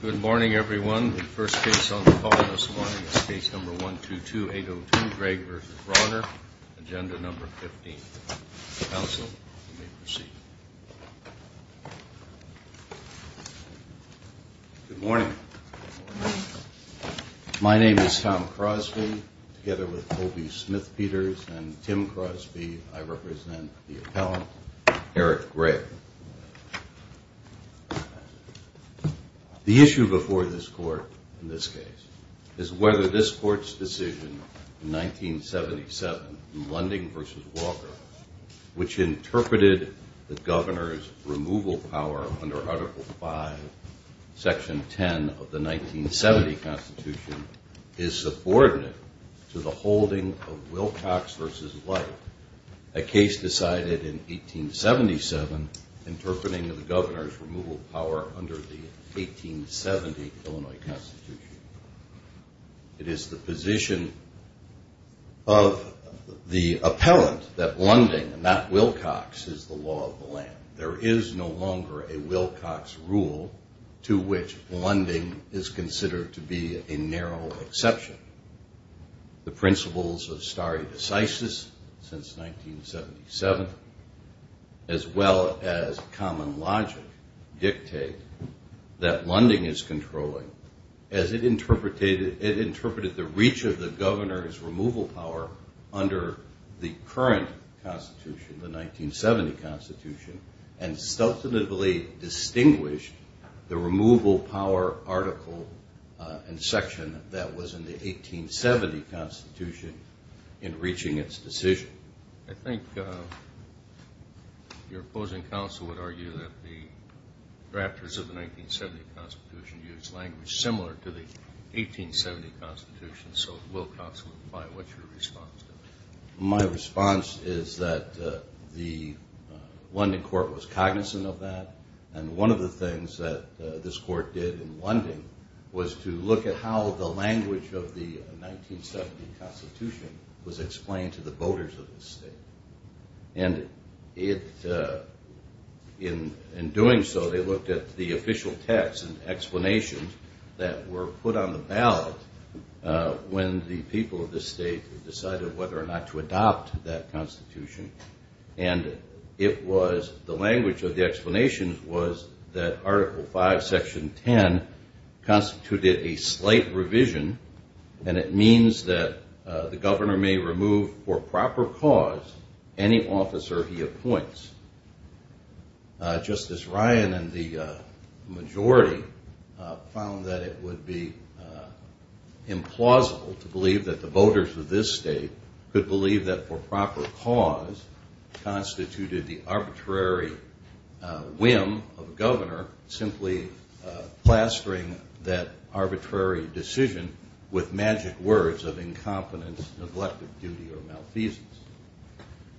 Good morning, everyone. The first case on the call this morning is case number 122802, Gregg v. Rauner, agenda number 15. Counsel, you may proceed. Good morning. My name is Tom Crosby. Together with Toby Smith-Peters and Tim Crosby, I represent the appellant, Eric Gregg. The issue before this court in this case is whether this court's decision in 1977, Lunding v. Walker, which interpreted the governor's removal power under Article V, Section 10 of the 1970 Constitution, is subordinate to the holding of Wilcox v. White, a case decided in 1877 interpreting the governor's removal power under the 1870 Illinois Constitution. It is the position of the appellant that Lunding, not Wilcox, is the law of the land. There is no longer a Wilcox rule to which Lunding is considered to be a narrow exception. The principles of stare decisis since 1977, as well as common logic, dictate that Lunding is controlling, as it interpreted the reach of the governor's removal power under the current Constitution, the 1970 Constitution, and substantively distinguished the removal power article and section that was in the 1870 Constitution in reaching its decision. I think your opposing counsel would argue that the drafters of the 1970 Constitution used language similar to the 1870 Constitution. So, Wilcox, what's your response to that? My response is that the Lunding court was cognizant of that, and one of the things that this court did in Lunding was to look at how the language of the 1970 Constitution was explained to the voters of the state. And in doing so, they looked at the official text and explanations that were put on the ballot when the people of the state decided whether or not to adopt that Constitution. And it was, the language of the explanations was that article 5, section 10, constituted a slight revision, and it means that the governor may remove for proper cause any officer he appoints. Justice Ryan and the majority found that it would be implausible to believe that the voters of this state could believe that for proper cause constituted the arbitrary whim of a governor simply plastering that arbitrary decision with magic words of incompetence, neglected duty, or malfeasance.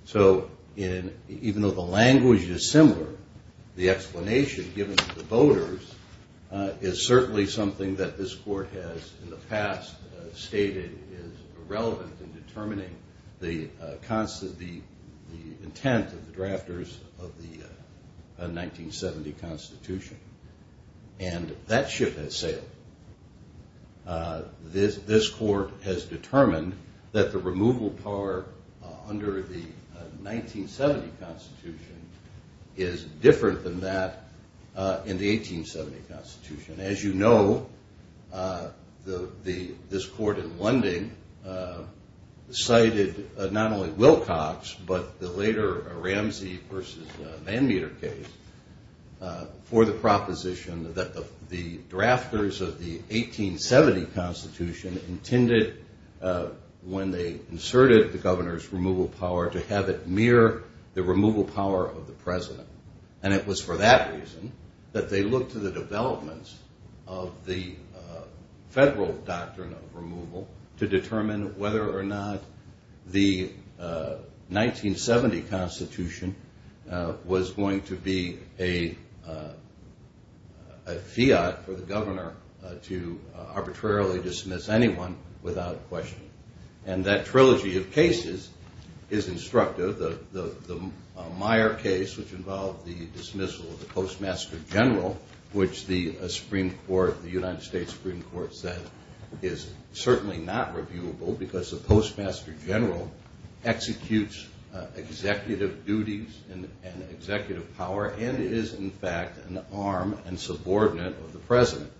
So, even though the language is similar, the explanation given to the voters is certainly something that this court has in the past stated is irrelevant in determining the intent of the drafters of the 1970 Constitution. And that ship has sailed. This court has determined that the removal under the 1970 Constitution is different than that in the 1870 Constitution. As you know, this court in Lunding cited not only Wilcox, but the later Ramsey versus Van Meter case for the proposition that the drafters of the 1870 Constitution intended when they inserted the governor's removal power to have it mirror the removal power of the president. And it was for that reason that they looked to the developments of the federal doctrine of removal to determine whether or not the 1970 Constitution was going to be a fiat for the governor to arbitrarily dismiss anyone without question. And that trilogy of cases is instructive. The Meyer case, which involved the dismissal of the Postmaster General, which the United States Supreme Court said is certainly not reviewable because the Postmaster General executes executive duties and executive power and is in fact an arm and subordinate of the president.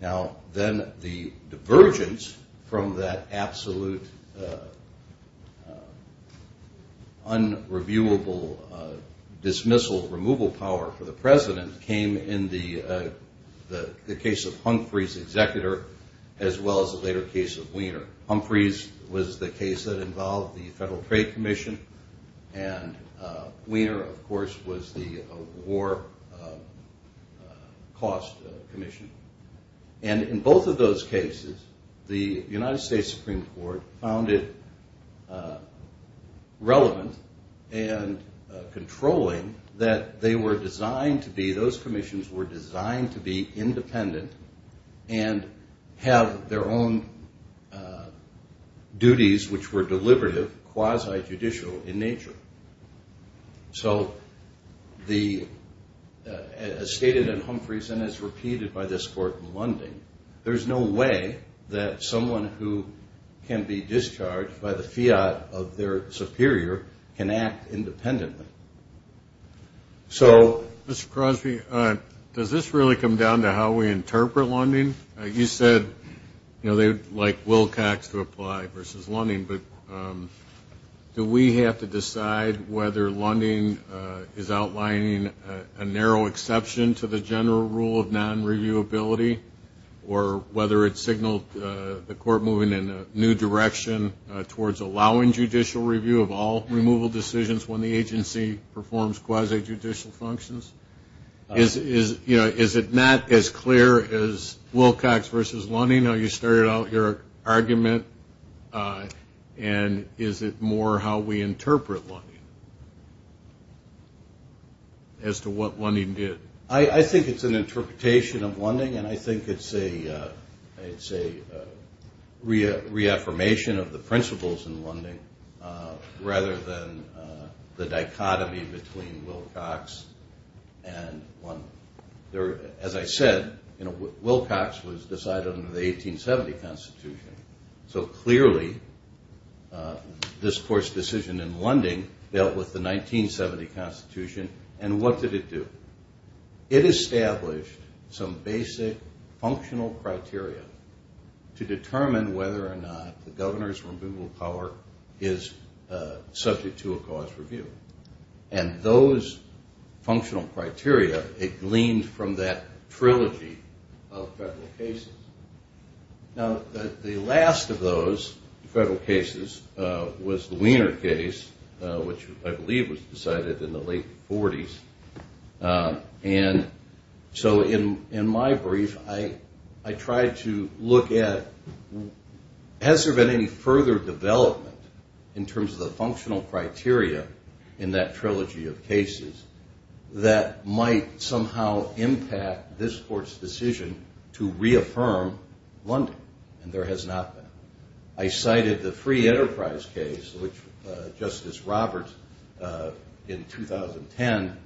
Now then the divergence from that absolute unreviewable dismissal removal power for the president came in the case of Humphrey's executor as well as the later case of Weiner. Humphrey's was the case that involved the Federal Trade Commission and Weiner, of course, was the war cost commission. And in both of those cases the United States Supreme Court found it relevant and controlling that they were designed to be, those commissions were designed to be independent and have their own duties, which were deliberative, quasi-judicial in nature. So the, as stated in Humphrey's and as repeated by this court in Lunding, there's no way that someone who can be discharged by the fiat of their superior can act independently. So, Mr. Crosby, does this really come down to how we interpret Lunding? You said, you know, they would like Wilcox to apply versus Lunding, but do we have to decide whether Lunding is outlining a narrow exception to the general rule of non-reviewability or whether it's signaled the court moving in a new direction towards allowing judicial review of all removal decisions when the agency is not? When the agency performs quasi-judicial functions? Is it not as clear as Wilcox versus Lunding, how you started out your argument, and is it more how we interpret Lunding as to what Lunding did? I think it's an interpretation of Lunding, and I think it's a reaffirmation of the principles in Lunding rather than the dichotomy between Wilcox and Lunding. As I said, Wilcox was decided under the 1870 Constitution, so clearly this court's decision in Lunding dealt with the 1970 Constitution, and what did it do? It established some basic functional criteria to determine whether or not the governor's removal power is subject to a cause review, and those functional criteria, it gleaned from that trilogy of federal cases. Now, the last of those federal cases was the Wiener case, which I believe was decided in the late 40s, and so in my brief, I tried to look at, has there been any further development in terms of the functional criteria in that trilogy of cases that might somehow impact this court's decision to reaffirm that the governor's removal power is subject to a cause review? And there has not been. I cited the Free Enterprise case, which Justice Roberts, in 2010,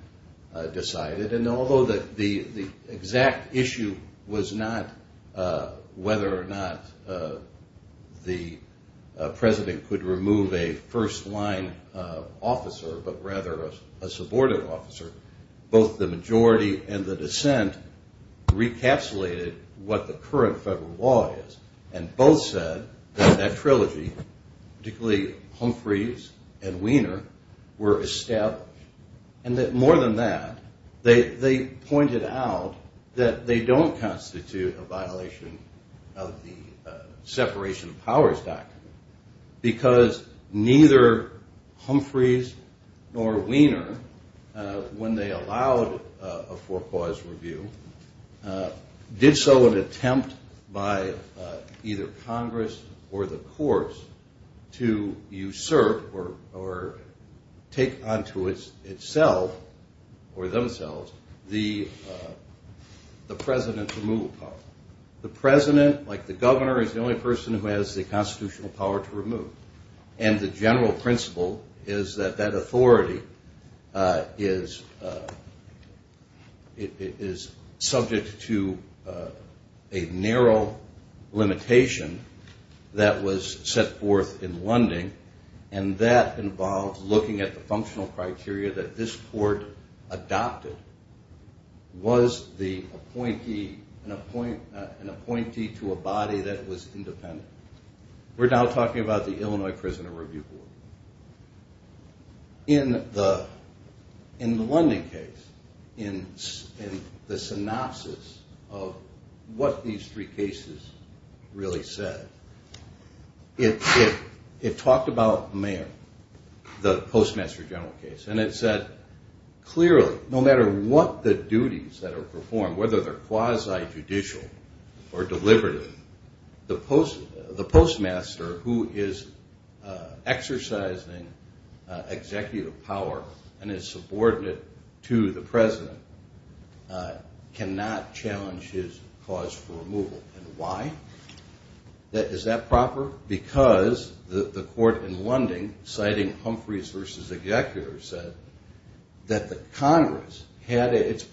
decided, and although the exact issue was not whether or not the president could remove a first-line officer, but rather a subordinate officer, both the majority and the dissent recapsulated what the current law says. And both said that that trilogy, particularly Humphreys and Wiener, were established, and that more than that, they pointed out that they don't constitute a violation of the separation of powers doctrine, because neither Humphreys nor Wiener, when they allowed a for-cause review, did so in an attempt by either Congress or the courts to usurp or take onto itself or themselves the president's removal power. The president, like the governor, is the only person who has the constitutional power to remove, and the general principle is that that authority is subject to a narrow limitation that was set forth in Lunding, and that involved looking at the functional criteria that this court adopted. Was the appointee an appointee to a body that was independent? We're now talking about the Illinois Prisoner Review Board. In the Lunding case, in the synopsis of what these three cases really said, it talked about Mayer, the Postmaster General case. And it said clearly, no matter what the duties that are performed, whether they're quasi-judicial or deliberative, the postmaster, who is exercising executive power and is subordinate to the president, cannot challenge his cause for removal. And why? Is that proper? Because the court in Lunding, citing Humphreys v. Executor, said that the Congress had in its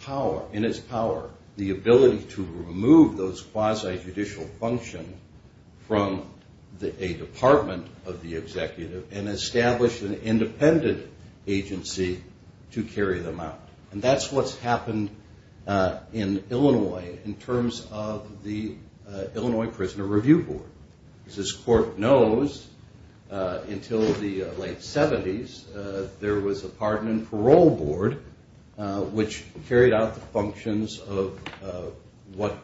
power the ability to remove those quasi-judicial functions from a department of the executive and establish an independent agency to carry them out. And that's what's happened in Illinois in terms of the Illinois Prisoner Review Board. As this court knows, until the late 70s, there was a pardon and parole board, which carried out the functions of what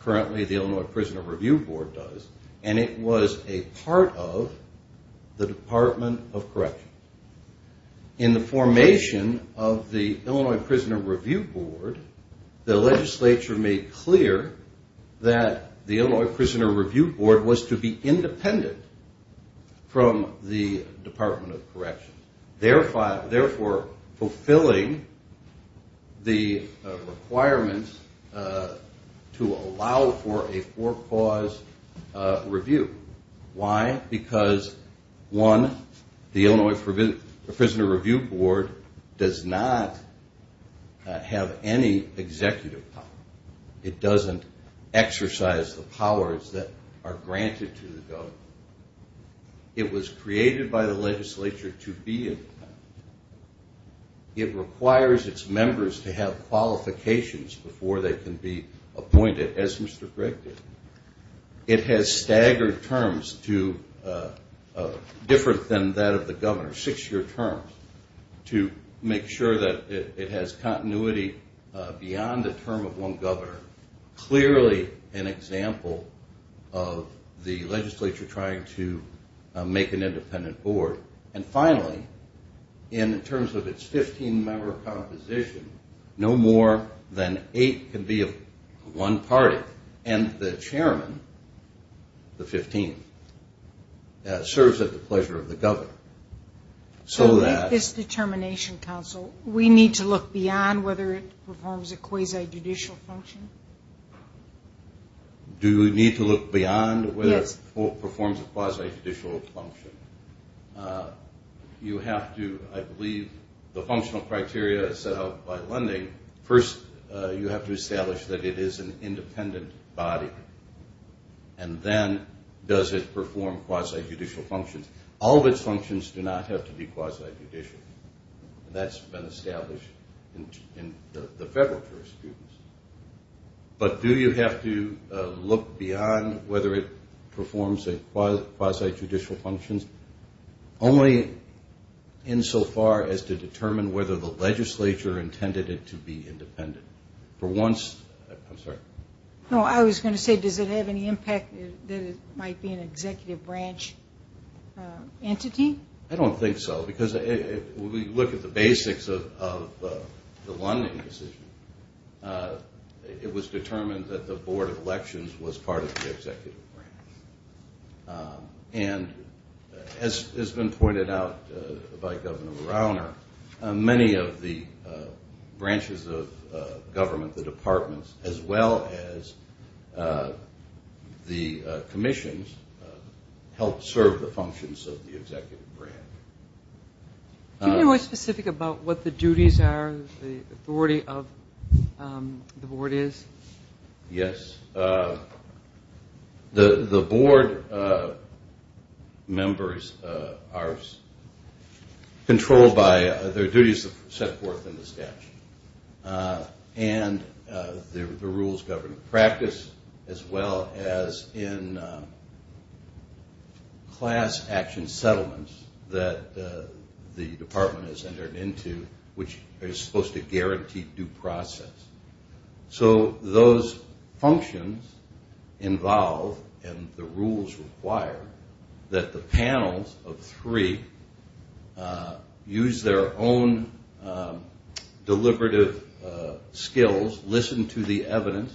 currently the Illinois Prisoner Review Board does, and it was a part of the Department of Corrections. In the formation of the Illinois Prisoner Review Board, the legislature made clear that the Illinois Prisoner Review Board was to be independent from the Department of Corrections, therefore fulfilling the requirements to allow for a four-cause review. Why? Because, one, the Illinois Prisoner Review Board does not have any executive power. It doesn't exercise the powers that are granted to the government. It was created by the legislature to be independent. It requires its members to have qualifications before they can be appointed, as Mr. Gregg did. It has staggered terms different than that of the governor, six-year terms, to make sure that it has continuity beyond the term of one governor, clearly an example of the legislature trying to make an independent board. And finally, in terms of its 15-member composition, no more than eight can be of one party, and the chairman, the 15th, serves at the pleasure of the governor. So with this determination, counsel, we need to look beyond whether it performs a quasi-judicial function? Do we need to look beyond whether it performs a quasi-judicial function? You have to, I believe, the functional criteria set out by Lending, first you have to establish that it is an independent body, and then does it perform quasi-judicial functions? All of its functions do not have to be quasi-judicial. That's been established in the federal jurisprudence. But do you have to look beyond whether it performs quasi-judicial functions, only insofar as to determine whether the legislature intended it to be independent? I'm sorry. No, I was going to say, does it have any impact that it might be an executive branch entity? I don't think so, because when we look at the basics of the Lending decision, it was determined that the Board of Elections was part of the executive branch. And as has been pointed out by Governor Rauner, many of the branches of government, the departments, as well as the commissions, help serve the functions of the executive branch. Can you be more specific about what the duties are, the authority of the board is? Yes. The board members are controlled by their duties set forth in the statute. And the rules governing practice, as well as in class action settlements that the department is entered into, which are supposed to guarantee due process. So those functions involve, and the rules require, that the panels of three use their own deliberative skills, listen to the evidence,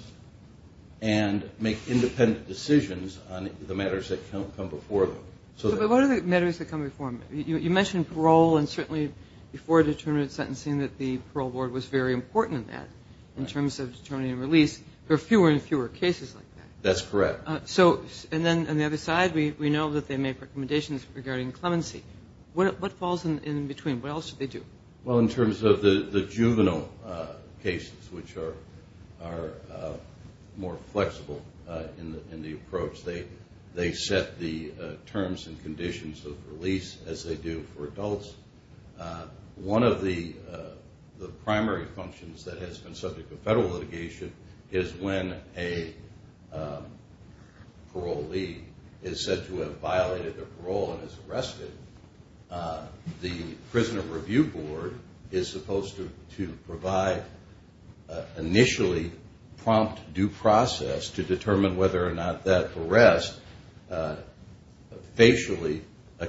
and make independent decisions on the matters that come before them. But what are the matters that come before them? You mentioned parole, and certainly before determinate sentencing that the parole board was very important in that, in terms of determining release. There are fewer and fewer cases like that. That's correct. So, and then on the other side, we know that they make recommendations regarding clemency. What falls in between? What else do they do? Well, in terms of the juvenile cases, which are more flexible in the approach, they set the terms and conditions of release as they do for adults. One of the primary functions that has been subject to federal litigation is when a parolee is said to have violated their parole and is arrested, the prison review board is supposed to provide initially prompt due process to determine whether or not that arrest facially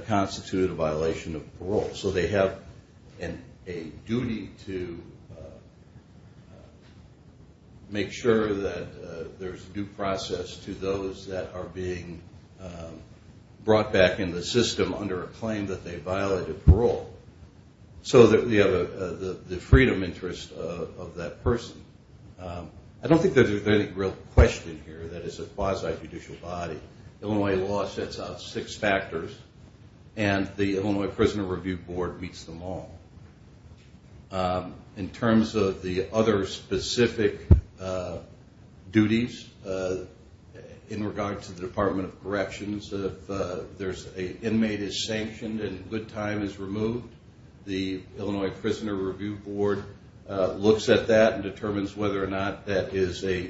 constituted a violation of parole. So they have a duty to make sure that there's due process to those that are being brought back in the system under a claim that they violated parole, so that we have the freedom interest of that person. I don't think there's any real question here that it's a quasi-judicial body. Illinois law sets out six factors, and the Illinois Prison Review Board meets them all. In terms of the other specific duties, in regards to the Department of Corrections, if an inmate is sanctioned and good time is removed, the Illinois Prison Review Board looks at that and determines whether or not that is a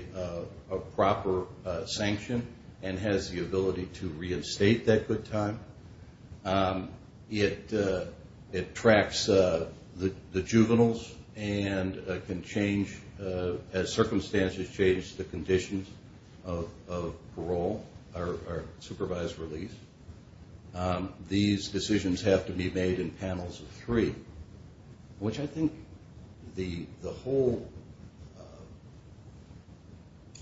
proper sanction and has the ability to reinstate that good time. It tracks the juveniles and can change, as circumstances change, the conditions of parole or supervised release. These decisions have to be made in panels of three, which I think the whole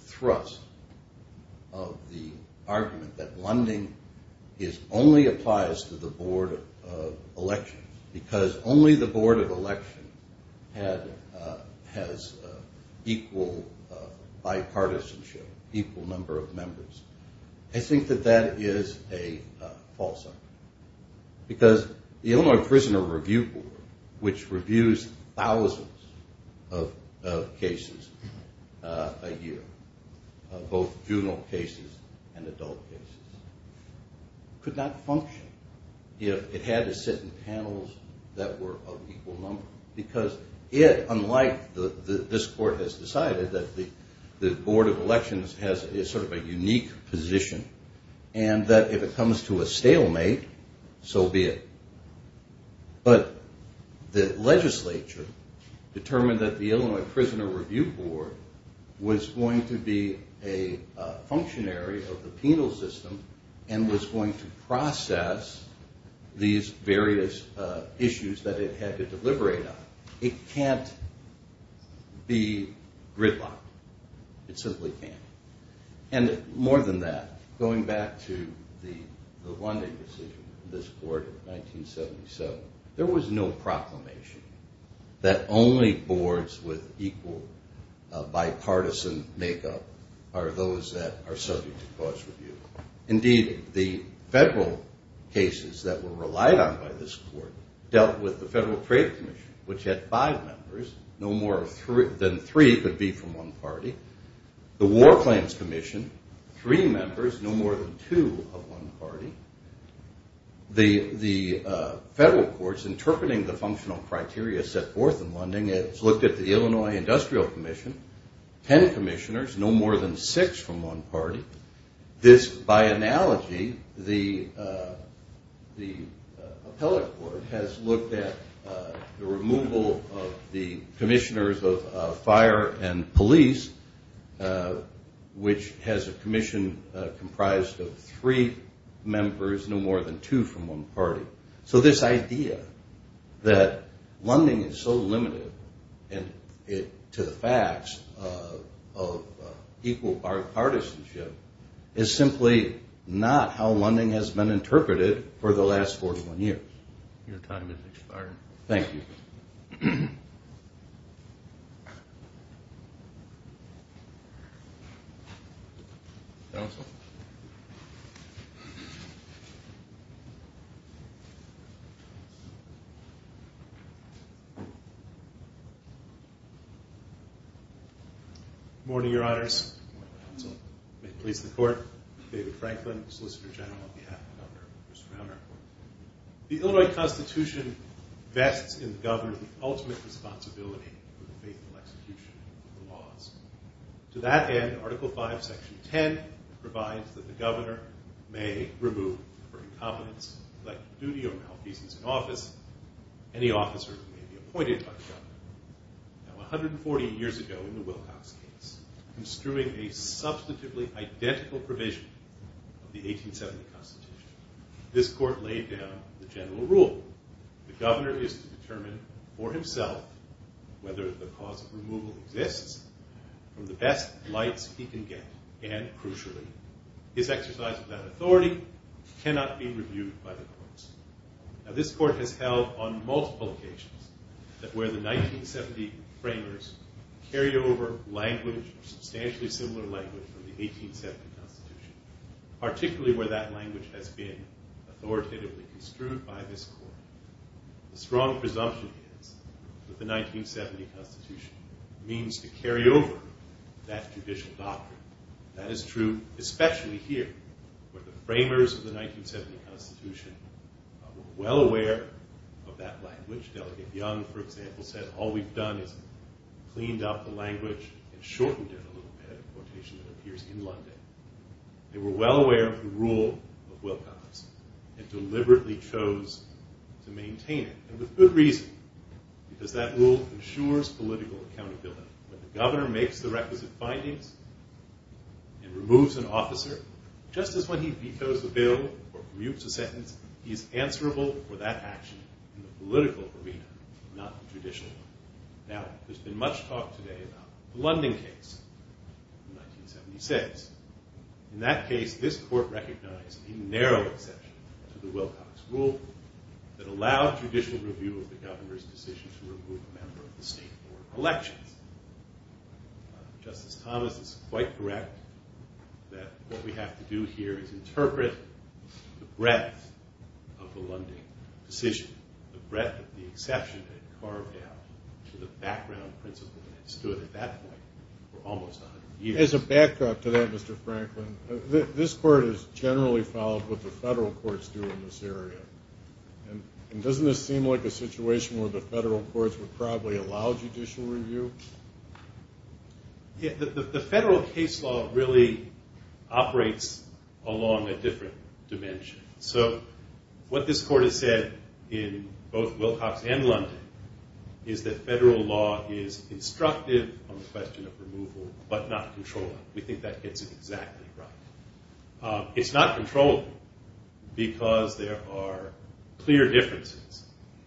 thrust of the argument that it only applies to the Board of Elections because only the Board of Elections has equal bipartisanship, equal number of members. I think that that is a false argument because the Illinois Prison Review Board, which reviews thousands of cases a year, both juvenile cases and adult cases, could not function if it had to sit in panels that were of equal number because it, unlike this Court has decided, that the Board of Elections has sort of a unique position and that if it comes to a stalemate, so be it. But the legislature determined that the Illinois Prison Review Board was going to be a functionary of the penal system and was going to process these various issues that it had to deliberate on. It can't be gridlocked. It simply can't. And more than that, going back to the one-day decision of this Court in 1977, there was no proclamation that only boards with equal bipartisan make-up are those that are subject to cause review. Indeed, the federal cases that were relied on by this Court dealt with the Federal Trade Commission, which had five members. No more than three could be from one party. The War Claims Commission, three members, no more than two of one party. The Federal Courts interpreting the functional criteria set forth in Lunding has looked at the Illinois Industrial Commission, ten commissioners, no more than six from one party. This, by analogy, the appellate court has looked at the removal of the commissioners of fire and police, which has a commission comprised of three members, no more than two from one party. So this idea that Lunding is so limited to the facts of equal bipartisanship is simply not how Lunding has been interpreted for the last 41 years. Your time has expired. Thank you. Morning, Your Honors. May it please the Court, David Franklin, Solicitor General on behalf of Governor Bruce Rauner. The Illinois Constitution vests in the governor the ultimate responsibility for the fateful execution of the laws. To that end, Article V, Section 10 provides that the governor may remove, for incompetence, collective duty or malfeasance in office, any officer who may be appointed by the governor. Now, 140 years ago in the Wilcox case, construing a substantively identical provision of the 1870 Constitution, this court laid down the general rule. The governor is to determine for himself whether the cause of removal exists from the best lights he can get. And, crucially, his exercise of that authority cannot be reviewed by the courts. Now, this court has held on multiple occasions that where the 1970 framers carry over language, substantially similar language, from the 1870 Constitution, particularly where that language has been authoritatively construed by this court, the strong presumption is that the 1970 Constitution means to carry over that judicial doctrine. That is true, especially here, where the framers of the 1970 Constitution were well aware of that language. Delegate Young, for example, said, all we've done is cleaned up the language and shortened it a little bit, a quotation that appears in London. They were well aware of the rule of Wilcox and deliberately chose to maintain it, and with good reason, because that rule ensures political accountability. When the governor makes the requisite findings and removes an officer, just as when he vetoes a bill or permutes a sentence, he is answerable for that action in the political arena, not the judicial one. Now, there's been much talk today about the London case in 1976. In that case, this court recognized a narrow exception to the Wilcox rule that allowed judicial review of the governor's decision to remove a member of the state board of elections. Justice Thomas is quite correct that what we have to do here is interpret the breadth of the London decision, the breadth of the exception that it carved out to the background principle that had stood at that point for almost 100 years. As a back up to that, Mr. Franklin, this court has generally followed what the federal courts do in this area. And doesn't this seem like a situation where the federal courts would probably allow judicial review? The federal case law really operates along a different dimension. So what this court has said in both Wilcox and London is that federal law is instructive on the question of removal, but not controllable. We think that gets it exactly right. It's not controllable because there are clear differences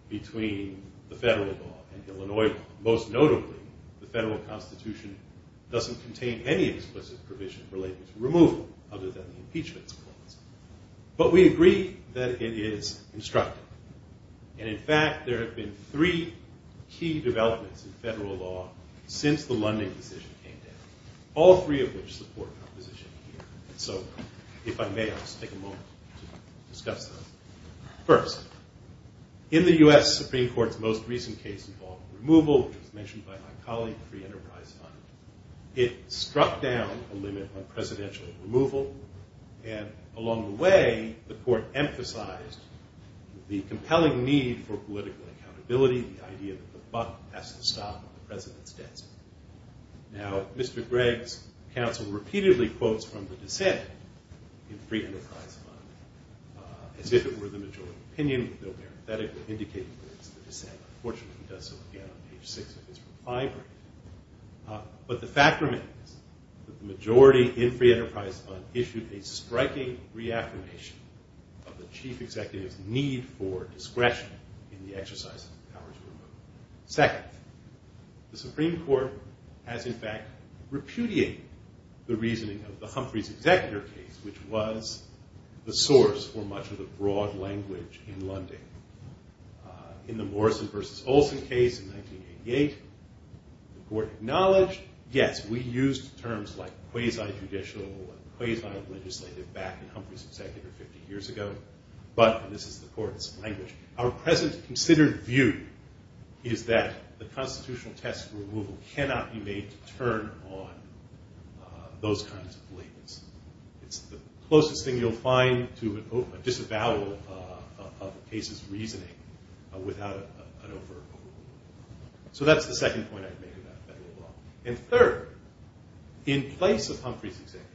between the federal law and Illinois law. Most notably, the federal constitution doesn't contain any explicit provision related to removal other than the impeachment clause. But we agree that it is instructive. And in fact, there have been three key developments in federal law since the London decision came down, all three of which support our position here. So if I may, I'll just take a moment to discuss those. First, in the US Supreme Court's most recent case involving removal, which was mentioned by my colleague, Free Enterprise Fund, it struck down a limit on presidential removal. And along the way, the court emphasized the compelling need for political accountability, the idea that the buck has to stop at the president's desk. Now, Mr. Gregg's counsel repeatedly quotes from the dissent in Free Enterprise Fund as if it were the majority opinion, though parenthetically indicating that it's the dissent. Unfortunately, he does so again on page 6 of his reply brief. But the fact remains that the majority in Free Enterprise Fund issued a striking reaffirmation of the chief executive's need for discretion in the exercise of the powers of removal. Second, the Supreme Court has, in fact, repudiated the reasoning of the Humphreys executor case, which was the source for much of the broad language in London. In the Morrison versus Olson case in 1988, the court acknowledged, yes, we used terms like quasi-judicial and quasi-legislative back in Humphreys' executor 50 years ago. But this is the court's language. Our present considered view is that the constitutional test for removal cannot be made to turn on those kinds of labels. It's the closest thing you'll find to a disavowal of a case's reasoning without an overt approval. So that's the second point I'd make about federal law. And third, in place of Humphreys' executor,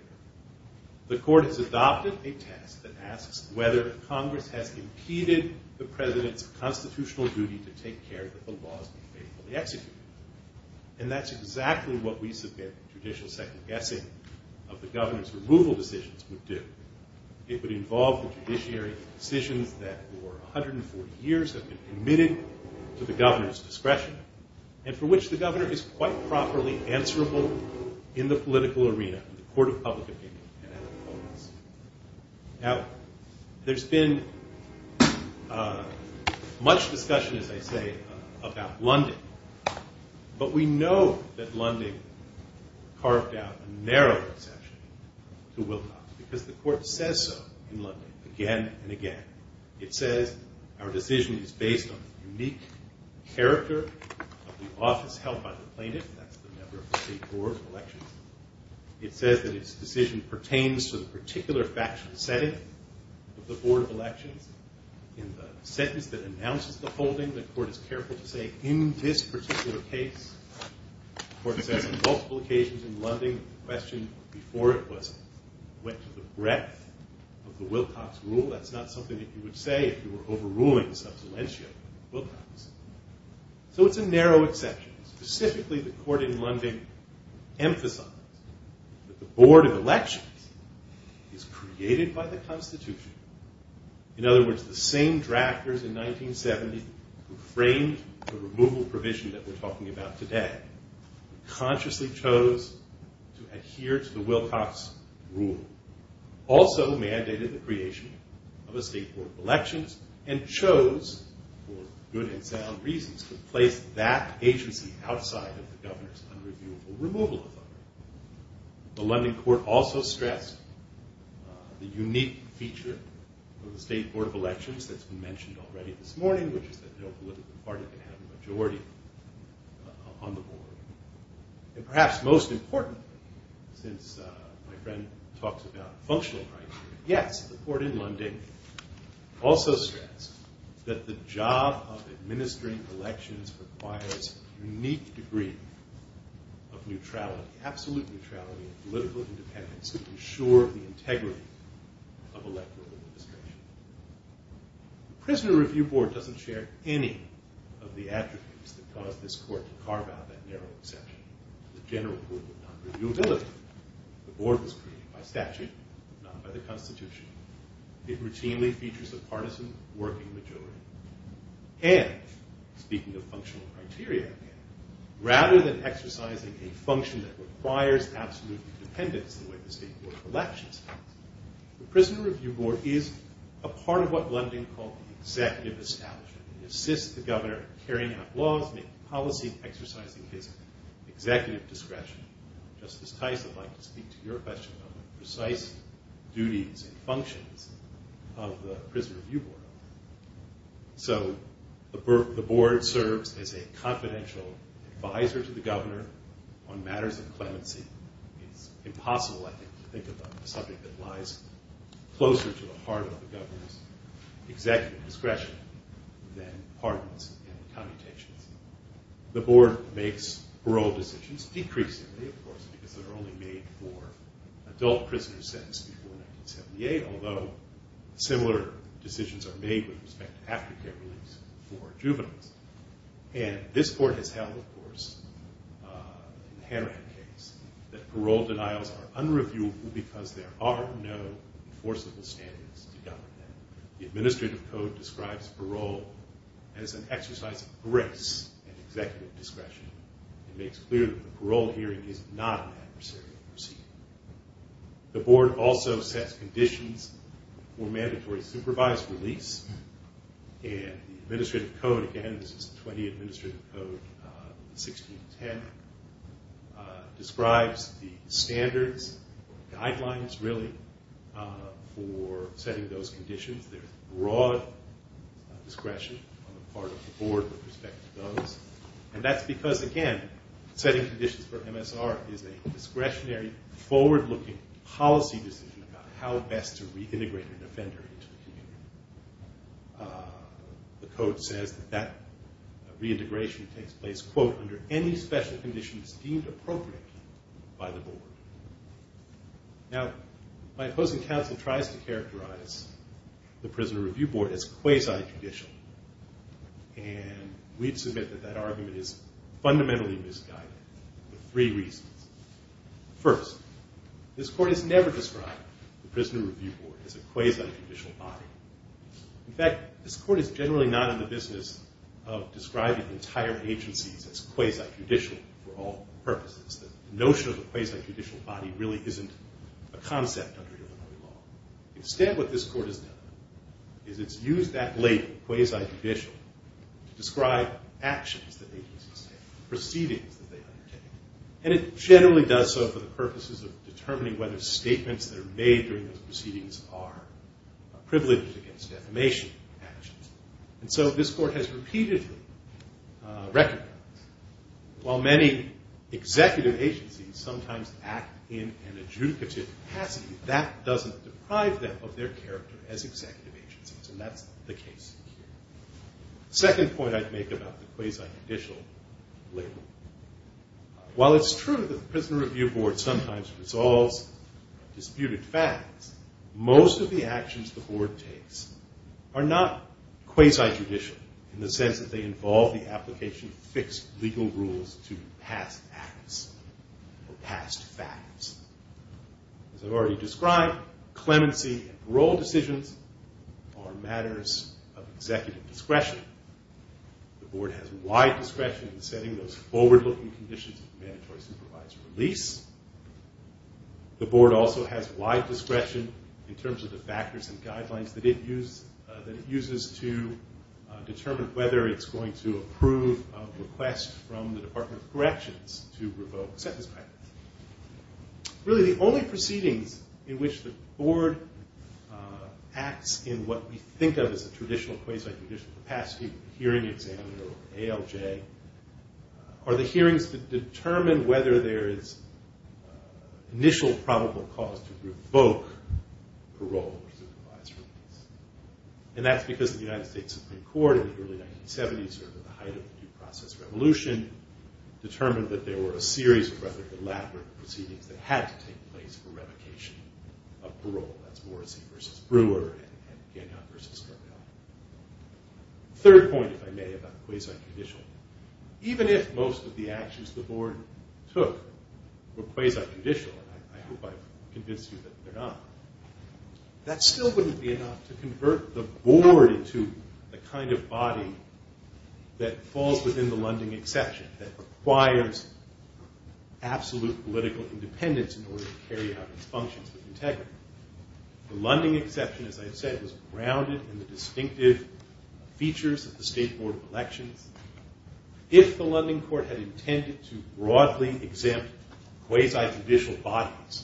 the court has adopted a test that asks whether Congress has impeded the president's constitutional duty to take care that the laws be faithfully executed. And that's exactly what we submit the judicial second guessing of the governor's removal decisions would do. It would involve the judiciary's decisions that for 140 years have been committed to the governor's discretion, and for which the governor is quite properly answerable in the political arena in the court of public opinion and at the polls. Now, there's been much discussion, as I say, about Lunding. But we know that Lunding carved out a narrow exception to Wilcox, because the court says so in Lunding again and again. It says our decision is based on the unique character of the office held by the plaintiff. That's the member of the state board of elections. It says that its decision pertains to the particular factual setting of the board of elections. In the sentence that announces the holding, the court is careful to say, in this particular case. The court says on multiple occasions in Lunding, the question before it was, went to the breadth of the Wilcox rule. That's not something that you would say if you were overruling subsidential Wilcox. So it's a narrow exception. Specifically, the court in Lunding emphasized that the board of elections is created by the Constitution. In other words, the same drafters in 1970 who framed the removal provision that we're talking about today consciously chose to adhere to the Wilcox rule. Also mandated the creation of a state board of elections and chose, for good and sound reasons, to place that agency outside of the governor's unreviewable removal authority. The Lunding court also stressed the unique feature of the state board of elections that's been mentioned already this morning, which is that no political party can have a majority on the board. And perhaps most important, since my friend talks about functional rights, yes, the court in Lunding also stressed that the job of administering elections requires a unique degree of neutrality, absolute neutrality, and political independence to ensure the integrity of electoral administration. The Prisoner Review Board doesn't share any of the attributes that caused this court to carve out that narrow exception. The general rule of non-reviewability. The board was created by statute, not by the Constitution. It routinely features a partisan working majority. And, speaking of functional criteria, rather than exercising a function that requires absolute independence in the way the state board of elections does, the Prisoner Review Board is a part of what Lunding called the executive establishment. It assists the governor in carrying out laws, making policies, exercising his executive discretion. Justice Tice, I'd like to speak to your question on the precise duties and functions of the Prisoner Review Board. So, the board serves as a confidential advisor to the governor on matters of clemency. It's impossible, I think, to think of a subject that lies closer to the heart of the governor's executive discretion than pardons and commutations. The board makes parole decisions, decreasingly, of course, because they're only made for adult prisoners sentenced before 1978, although similar decisions are made with respect to aftercare reliefs for juveniles. And this board has held, of course, in the Hanrahan case, that parole denials are unreviewable because there are no enforceable standards to govern them. The administrative code describes parole as an exercise of grace and executive discretion. It makes clear that a parole hearing is not an adversarial proceeding. The board also sets conditions for mandatory supervised release. And the administrative code, again, this is the 20 Administrative Code, 1610, describes the standards, guidelines, really, for setting those conditions. There's broad discretion on the part of the board with respect to those. And that's because, again, setting conditions for MSR is a discretionary, forward-looking policy decision about how best to reintegrate an offender into the community. The code says that that reintegration takes place, quote, under any special conditions deemed appropriate by the board. Now, my opposing counsel tries to characterize the Prisoner Review Board as quasi-judicial, and we'd submit that that argument is fundamentally misguided for three reasons. First, this court has never described the Prisoner Review Board as a quasi-judicial body. In fact, this court is generally not in the business of describing entire agencies as quasi-judicial for all purposes. The notion of a quasi-judicial body really isn't a concept under Illinois law. Instead, what this court has done is it's used that label, quasi-judicial, to describe actions that agencies take, proceedings that they undertake. And it generally does so for the purposes of determining whether statements that are made during those proceedings are privileged against defamation actions. And so this court has repeatedly recognized, while many executive agencies sometimes act in an adjudicative capacity, that doesn't deprive them of their character as executive agencies. And that's the case here. Second point I'd make about the quasi-judicial label. While it's true that the Prisoner Review Board sometimes resolves disputed facts, most of the actions the board takes are not quasi-judicial in the sense that they involve the application of fixed legal rules to past acts or past facts. As I've already described, clemency and parole decisions are matters of executive discretion. The board has wide discretion in setting those forward-looking conditions of mandatory supervised release. The board also has wide discretion in terms of the factors and guidelines that it uses to determine whether it's going to approve a request from the Department of Corrections to revoke sentence practice. Really, the only proceedings in which the board acts in what we think of as a traditional quasi-judicial capacity, hearing exam or ALJ, are the hearings that determine whether there is initial probable cause to revoke parole or supervised release. And that's because the United States Supreme Court in the early 1970s, sort of at the height of the due process revolution, determined that there were a series of rather elaborate proceedings that had to take place for revocation of parole. That's Morrissey v. Brewer and Gagnon v. Scarbell. Third point, if I may, about quasi-judicial. Even if most of the actions the board took were quasi-judicial, and I hope I've convinced you that they're not, that still wouldn't be enough to convert the board into the kind of body that falls within the Lunding exception, that requires absolute political independence in order to carry out its functions with integrity. The Lunding exception, as I've said, was grounded in the distinctive features of the State Board of Elections. If the Lunding court had intended to broadly exempt quasi-judicial bodies,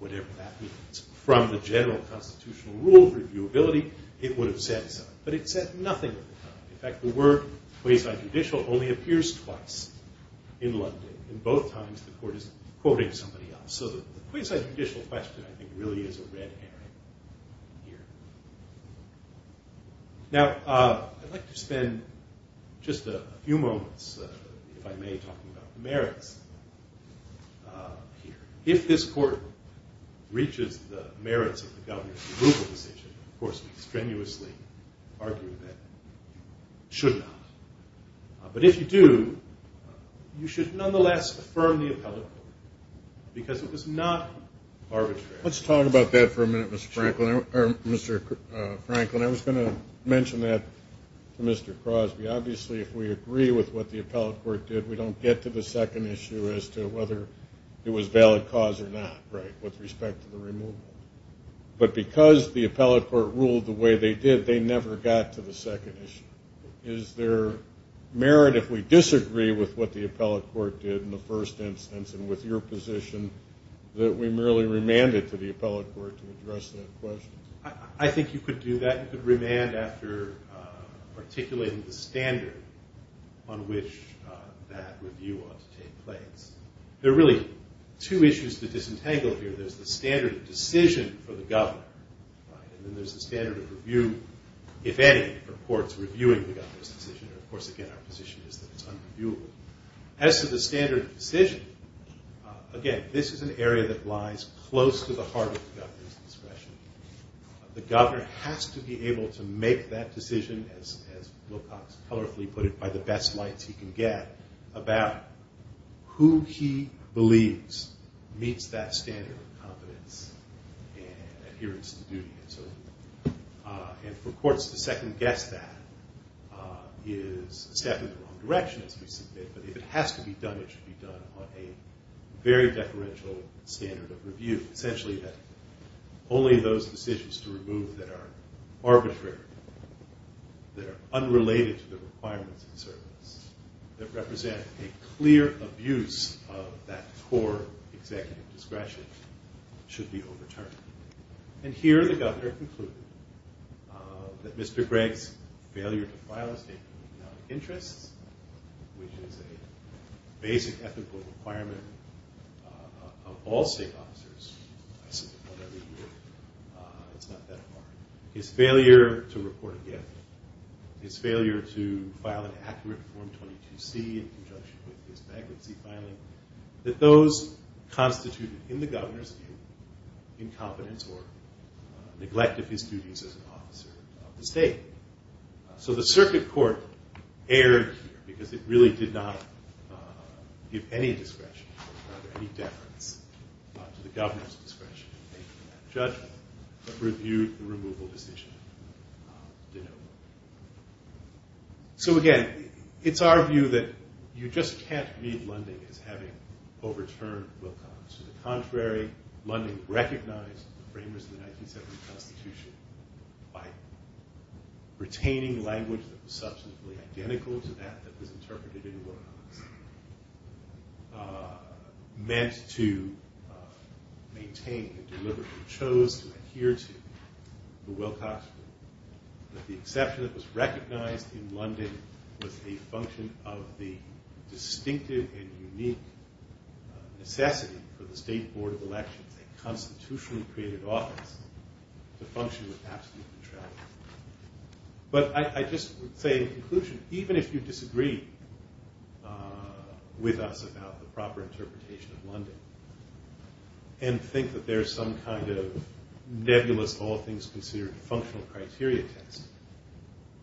whatever that means, from the general constitutional rule of reviewability, it would have said so. So the quasi-judicial question, I think, really is a red herring here. Now, I'd like to spend just a few moments, if I may, talking about the merits here. If this court reaches the merits of the governor's approval decision, of course, we strenuously argue that it should not. But if you do, you should nonetheless affirm the appellate court, because it was not arbitrary. Let's talk about that for a minute, Mr. Franklin. I was going to mention that to Mr. Crosby. Obviously, if we agree with what the appellate court did, we don't get to the second issue as to whether it was valid cause or not, right, with respect to the removal. But because the appellate court ruled the way they did, they never got to the second issue. Is there merit if we disagree with what the appellate court did in the first instance and with your position that we merely remand it to the appellate court to address that question? I think you could do that. You could remand after articulating the standard on which that review ought to take place. There are really two issues to disentangle here. There's the standard of decision for the governor, and then there's the standard of review, if any, for courts reviewing the governor's decision. Of course, again, our position is that it's unreviewable. As to the standard of decision, again, this is an area that lies close to the heart of the governor's discretion. The governor has to be able to make that decision, as Wilcox colorfully put it, by the best lights he can get, about who he believes meets that standard of competence and adherence to duty. And for courts to second-guess that is a step in the wrong direction, as we see fit. But if it has to be done, it should be done on a very deferential standard of review, essentially that only those decisions to remove that are arbitrary, that are unrelated to the requirements of the service, that represent a clear abuse of that core executive discretion, should be overturned. And here, the governor concluded that Mr. Gregg's failure to file a statement of economic interests, which is a basic ethical requirement of all state officers, I suppose it's not that hard, his failure to report a gift, his failure to file an accurate Form 22C in conjunction with his bankruptcy filing, that those constituted in the governor's view, incompetence or neglect of his duties as an officer of the state. So the circuit court erred here, because it really did not give any discretion, or rather any deference to the governor's discretion in making that judgment, but reviewed the removal decision to no avail. So again, it's our view that you just can't read Lunding as having overturned Wilcox. To the contrary, Lunding recognized the framers of the 1970 Constitution by retaining language that was substantively identical to that that was interpreted in Wilcox, meant to maintain and deliberately chose to adhere to the Wilcox rule. But the exception that was recognized in Lunding was a function of the distinctive and unique necessity for the State Board of Elections, a constitutionally created office, to function with absolute neutrality. But I just would say in conclusion, even if you disagree with us about the proper interpretation of Lunding, and think that there's some kind of nebulous, all things considered, functional criteria test,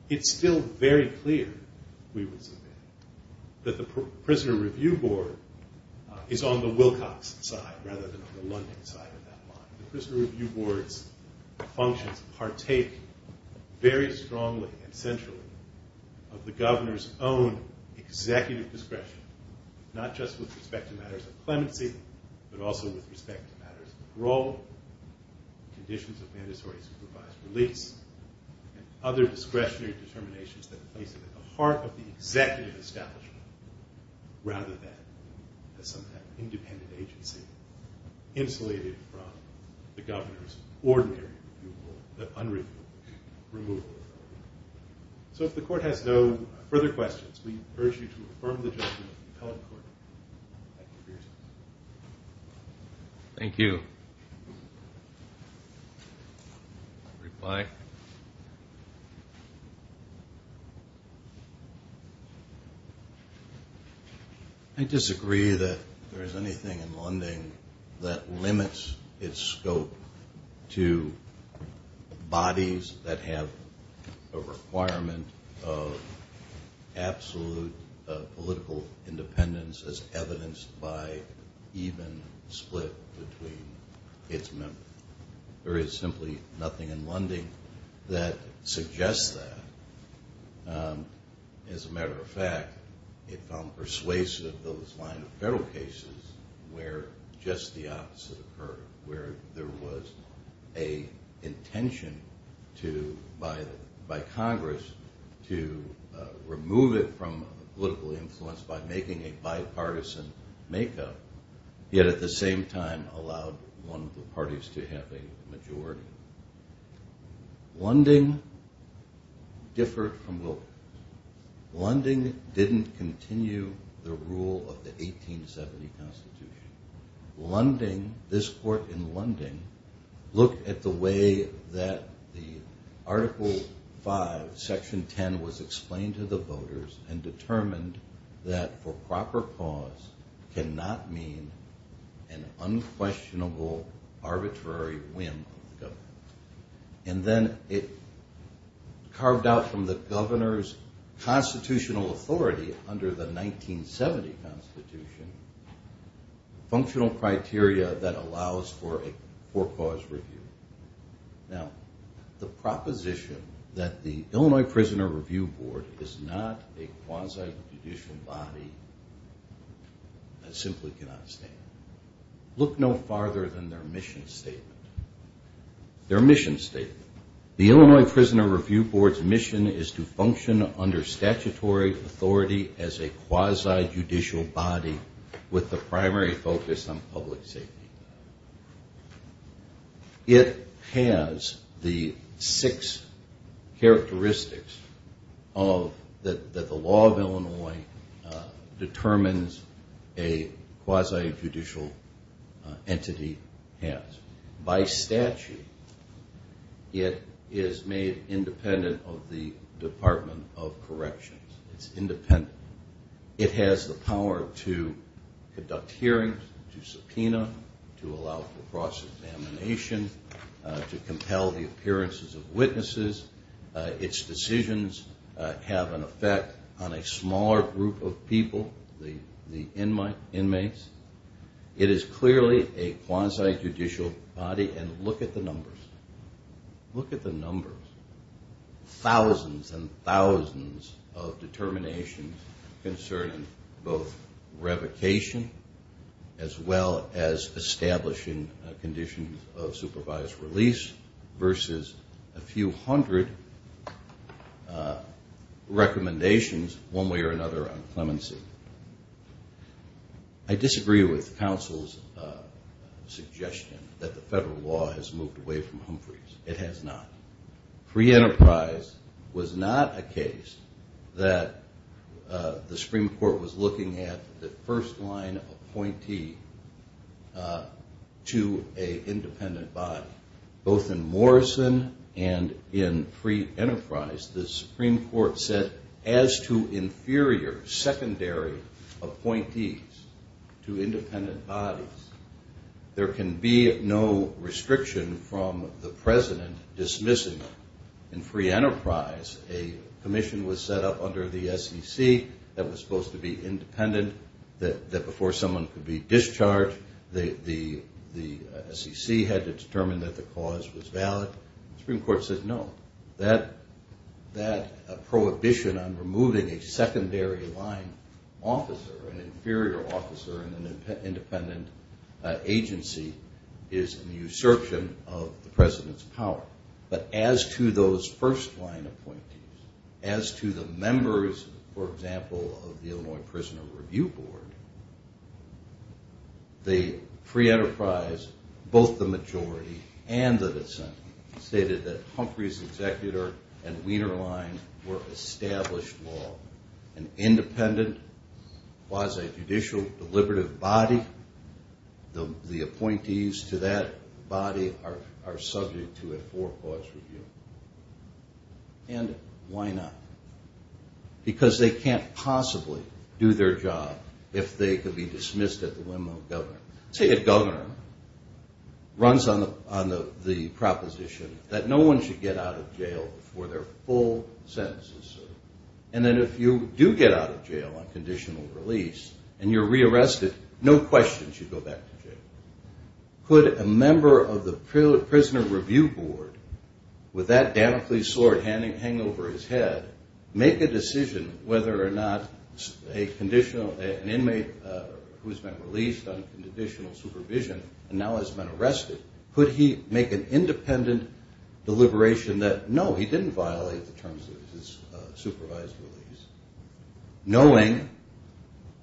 it's still very clear, we would submit, that the Prisoner Review Board is on the Wilcox side rather than on the Lunding side of that line. The Prisoner Review Board's functions partake very strongly and centrally of the governor's own executive discretion, not just with respect to matters of clemency, but also with respect to matters of parole, conditions of mandatory supervised release, and other discretionary determinations that are placed at the heart of the executive establishment, rather than as some kind of independent agency, insulated from the governor's ordinary removal. So if the court has no further questions, we urge you to affirm the judgment of the appellate court. Thank you. I'll reply. I disagree that there is anything in Lunding that limits its scope to bodies that have a requirement of absolute political independence as evidenced by even split between its members. There is simply nothing in Lunding that suggests that. As a matter of fact, it found persuasive those line of federal cases where just the opposite occurred, where there was an intention by Congress to remove it from political influence by making a bipartisan make-up, yet at the same time allowed one of the parties to have a majority. Lunding differed from Wilkerson. Lunding didn't continue the rule of the 1870 Constitution. Lunding, this court in Lunding, looked at the way that the Article 5, Section 10 was explained to the voters and determined that for proper cause cannot mean an unquestionable arbitrary whim of the governor. And then it carved out from the governor's constitutional authority under the 1970 Constitution, functional criteria that allows for a for-cause review. Now, the proposition that the Illinois Prisoner Review Board is not a quasi-judicial body, I simply cannot stand. Look no farther than their mission statement. Their mission statement. The Illinois Prisoner Review Board's mission is to function under statutory authority as a quasi-judicial body with the primary focus on public safety. It has the six characteristics that the law of Illinois determines a quasi-judicial entity has. By statute, it is made independent of the Department of Corrections. It's independent. It has the power to conduct hearings, to subpoena, to allow for cross-examination, to compel the appearances of witnesses. Its decisions have an effect on a smaller group of people, the inmates. It is clearly a quasi-judicial body, and look at the numbers. Thousands and thousands of determinations concerning both revocation as well as establishing conditions of supervised release versus a few hundred recommendations one way or another on clemency. I disagree with counsel's suggestion that the federal law has moved away from Humphreys. It has not. Pre-Enterprise was not a case that the Supreme Court was looking at the first-line appointee to an independent body. Both in Morrison and in Pre-Enterprise, the Supreme Court said as to inferior secondary appointees to independent bodies, there can be no restriction from the president dismissing them. In Pre-Enterprise, a commission was set up under the SEC that was supposed to be independent, that before someone could be discharged, the SEC had to determine that the cause was valid. The Supreme Court said no. That prohibition on removing a secondary line officer, an inferior officer in an independent agency is an usurpation of the president's power. But as to those first-line appointees, as to the members, for example, of the Illinois Prisoner Review Board, the Pre-Enterprise, both the majority and the dissent, stated that Humphreys' executor and Wiener line were established law. An independent quasi-judicial deliberative body, the appointees to that body are subject to a four-clause review. And why not? Because they can't possibly do their job if they could be dismissed at the whim of a governor. Say a governor runs on the proposition that no one should get out of jail before their full sentence is served. And then if you do get out of jail on conditional release and you're re-arrested, no question you should go back to jail. Could a member of the Prisoner Review Board, with that Damocles sword hanging over his head, make a decision whether or not an inmate who's been released on conditional release should go back to jail? Could he make an independent deliberation that, no, he didn't violate the terms of his supervised release, knowing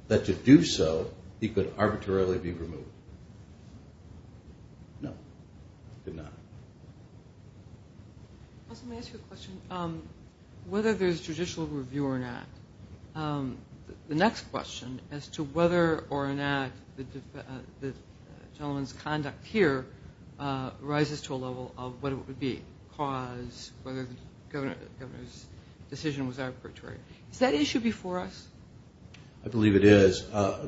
that to do so he could arbitrarily be removed? No, he could not. Let me ask you a question. Whether there's judicial review or not, the next question as to whether or not the gentleman's conduct here rises to a level of what it would be, cause, whether the governor's decision was arbitrary. Is that issue before us? I believe it is,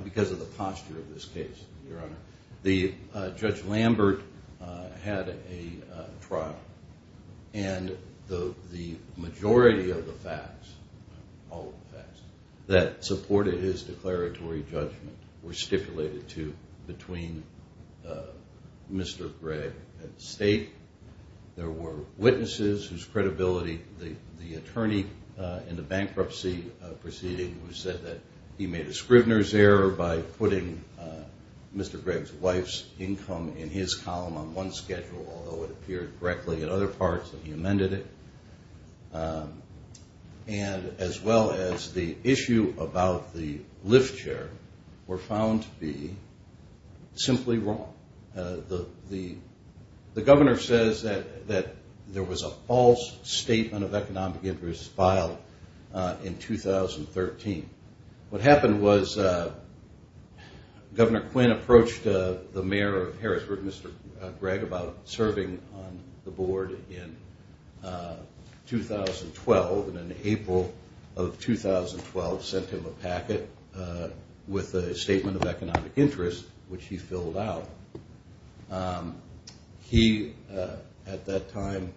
because of the posture of this case, Your Honor. Judge Lambert had a trial, and the majority of the facts, all of the facts, that supported his declaratory judgment were stipulated to between Mr. Gregg and the state. There were witnesses whose credibility, the attorney in the bankruptcy proceeding who said that he made a Scrivner's error by putting Mr. Gregg's wife's income in his column on one schedule, although it appeared correctly in other parts that he amended it. And as well as the issue about the lift chair were found to be simply wrong. The governor says that there was a false statement of economic interest filed in 2013. What happened was Governor Quinn approached the mayor of Harrisburg, Mr. Gregg, about serving on the board in 2013. And in 2012, in April of 2012, sent him a packet with a statement of economic interest, which he filled out. He, at that time,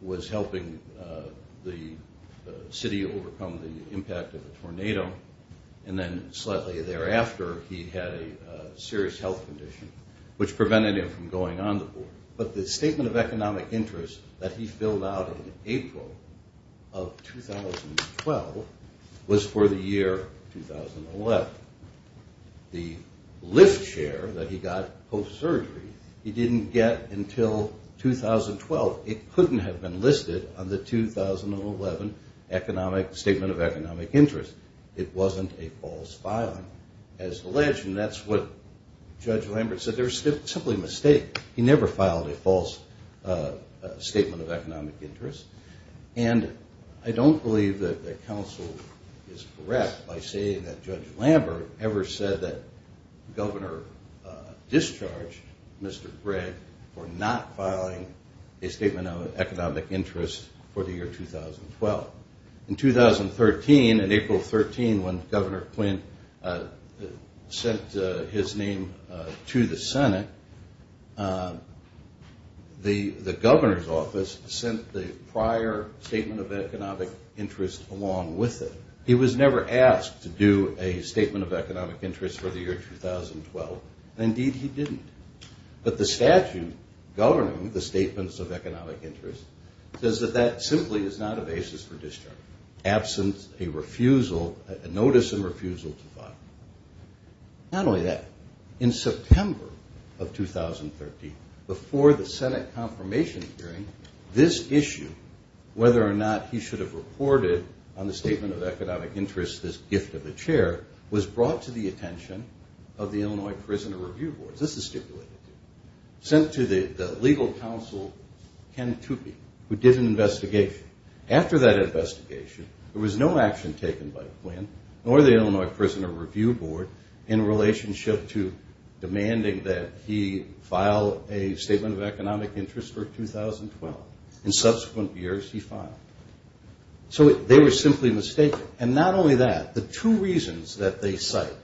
was helping the city overcome the impact of a tornado, and then slightly thereafter, he had a serious health condition, which prevented him from going on the board. But the statement of economic interest that he filled out in April of 2012 was for the year 2011. The lift chair that he got post-surgery, he didn't get until 2012. It couldn't have been listed on the 2011 statement of economic interest. It wasn't a false filing. And I don't believe that the council is correct by saying that Judge Lambert ever said that Governor discharged Mr. Gregg for not filing a statement of economic interest for the year 2012. In 2013, in April of 13, when Governor Quinn sent his name to the Senate, the governor's office sent the prior statement of economic interest along with it. He was never asked to do a statement of economic interest for the year 2012. Indeed, he didn't. But the statute governing the statements of economic interest says that that simply is not a basis for discharge. Absence, a refusal, a notice of refusal to file. Not only that, in September of 2013, before the Senate confirmation hearing, this issue, whether or not he should have reported on the statement of economic interest, this gift of the chair, was brought to the attention of the Illinois Prisoner Review Board. Sent to the legal counsel, Ken Toopey, who did an investigation. After that investigation, there was no action taken by Quinn nor the Illinois Prisoner Review Board in relationship to demanding that he file a statement of economic interest for 2012 in subsequent years he filed. So they were simply mistaken. And not only that, the two reasons that they cite,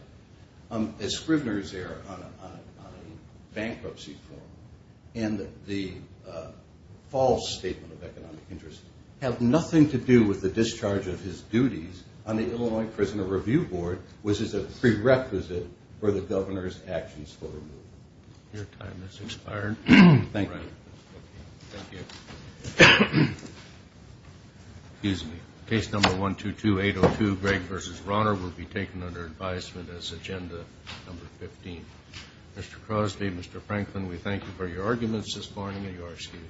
a Scrivener's error on a bankruptcy form and the false statement of economic interest, have nothing to do with the discharge of his duties on the Illinois Prisoner Review Board, which is a prerequisite for the governor's actions for removal. Your time has expired. Thank you. Excuse me. Case number 122802, Gregg v. Rauner, will be taken under advisement as agenda number 15. Mr. Crosby, Mr. Franklin, we thank you for your arguments this morning, and you are excused.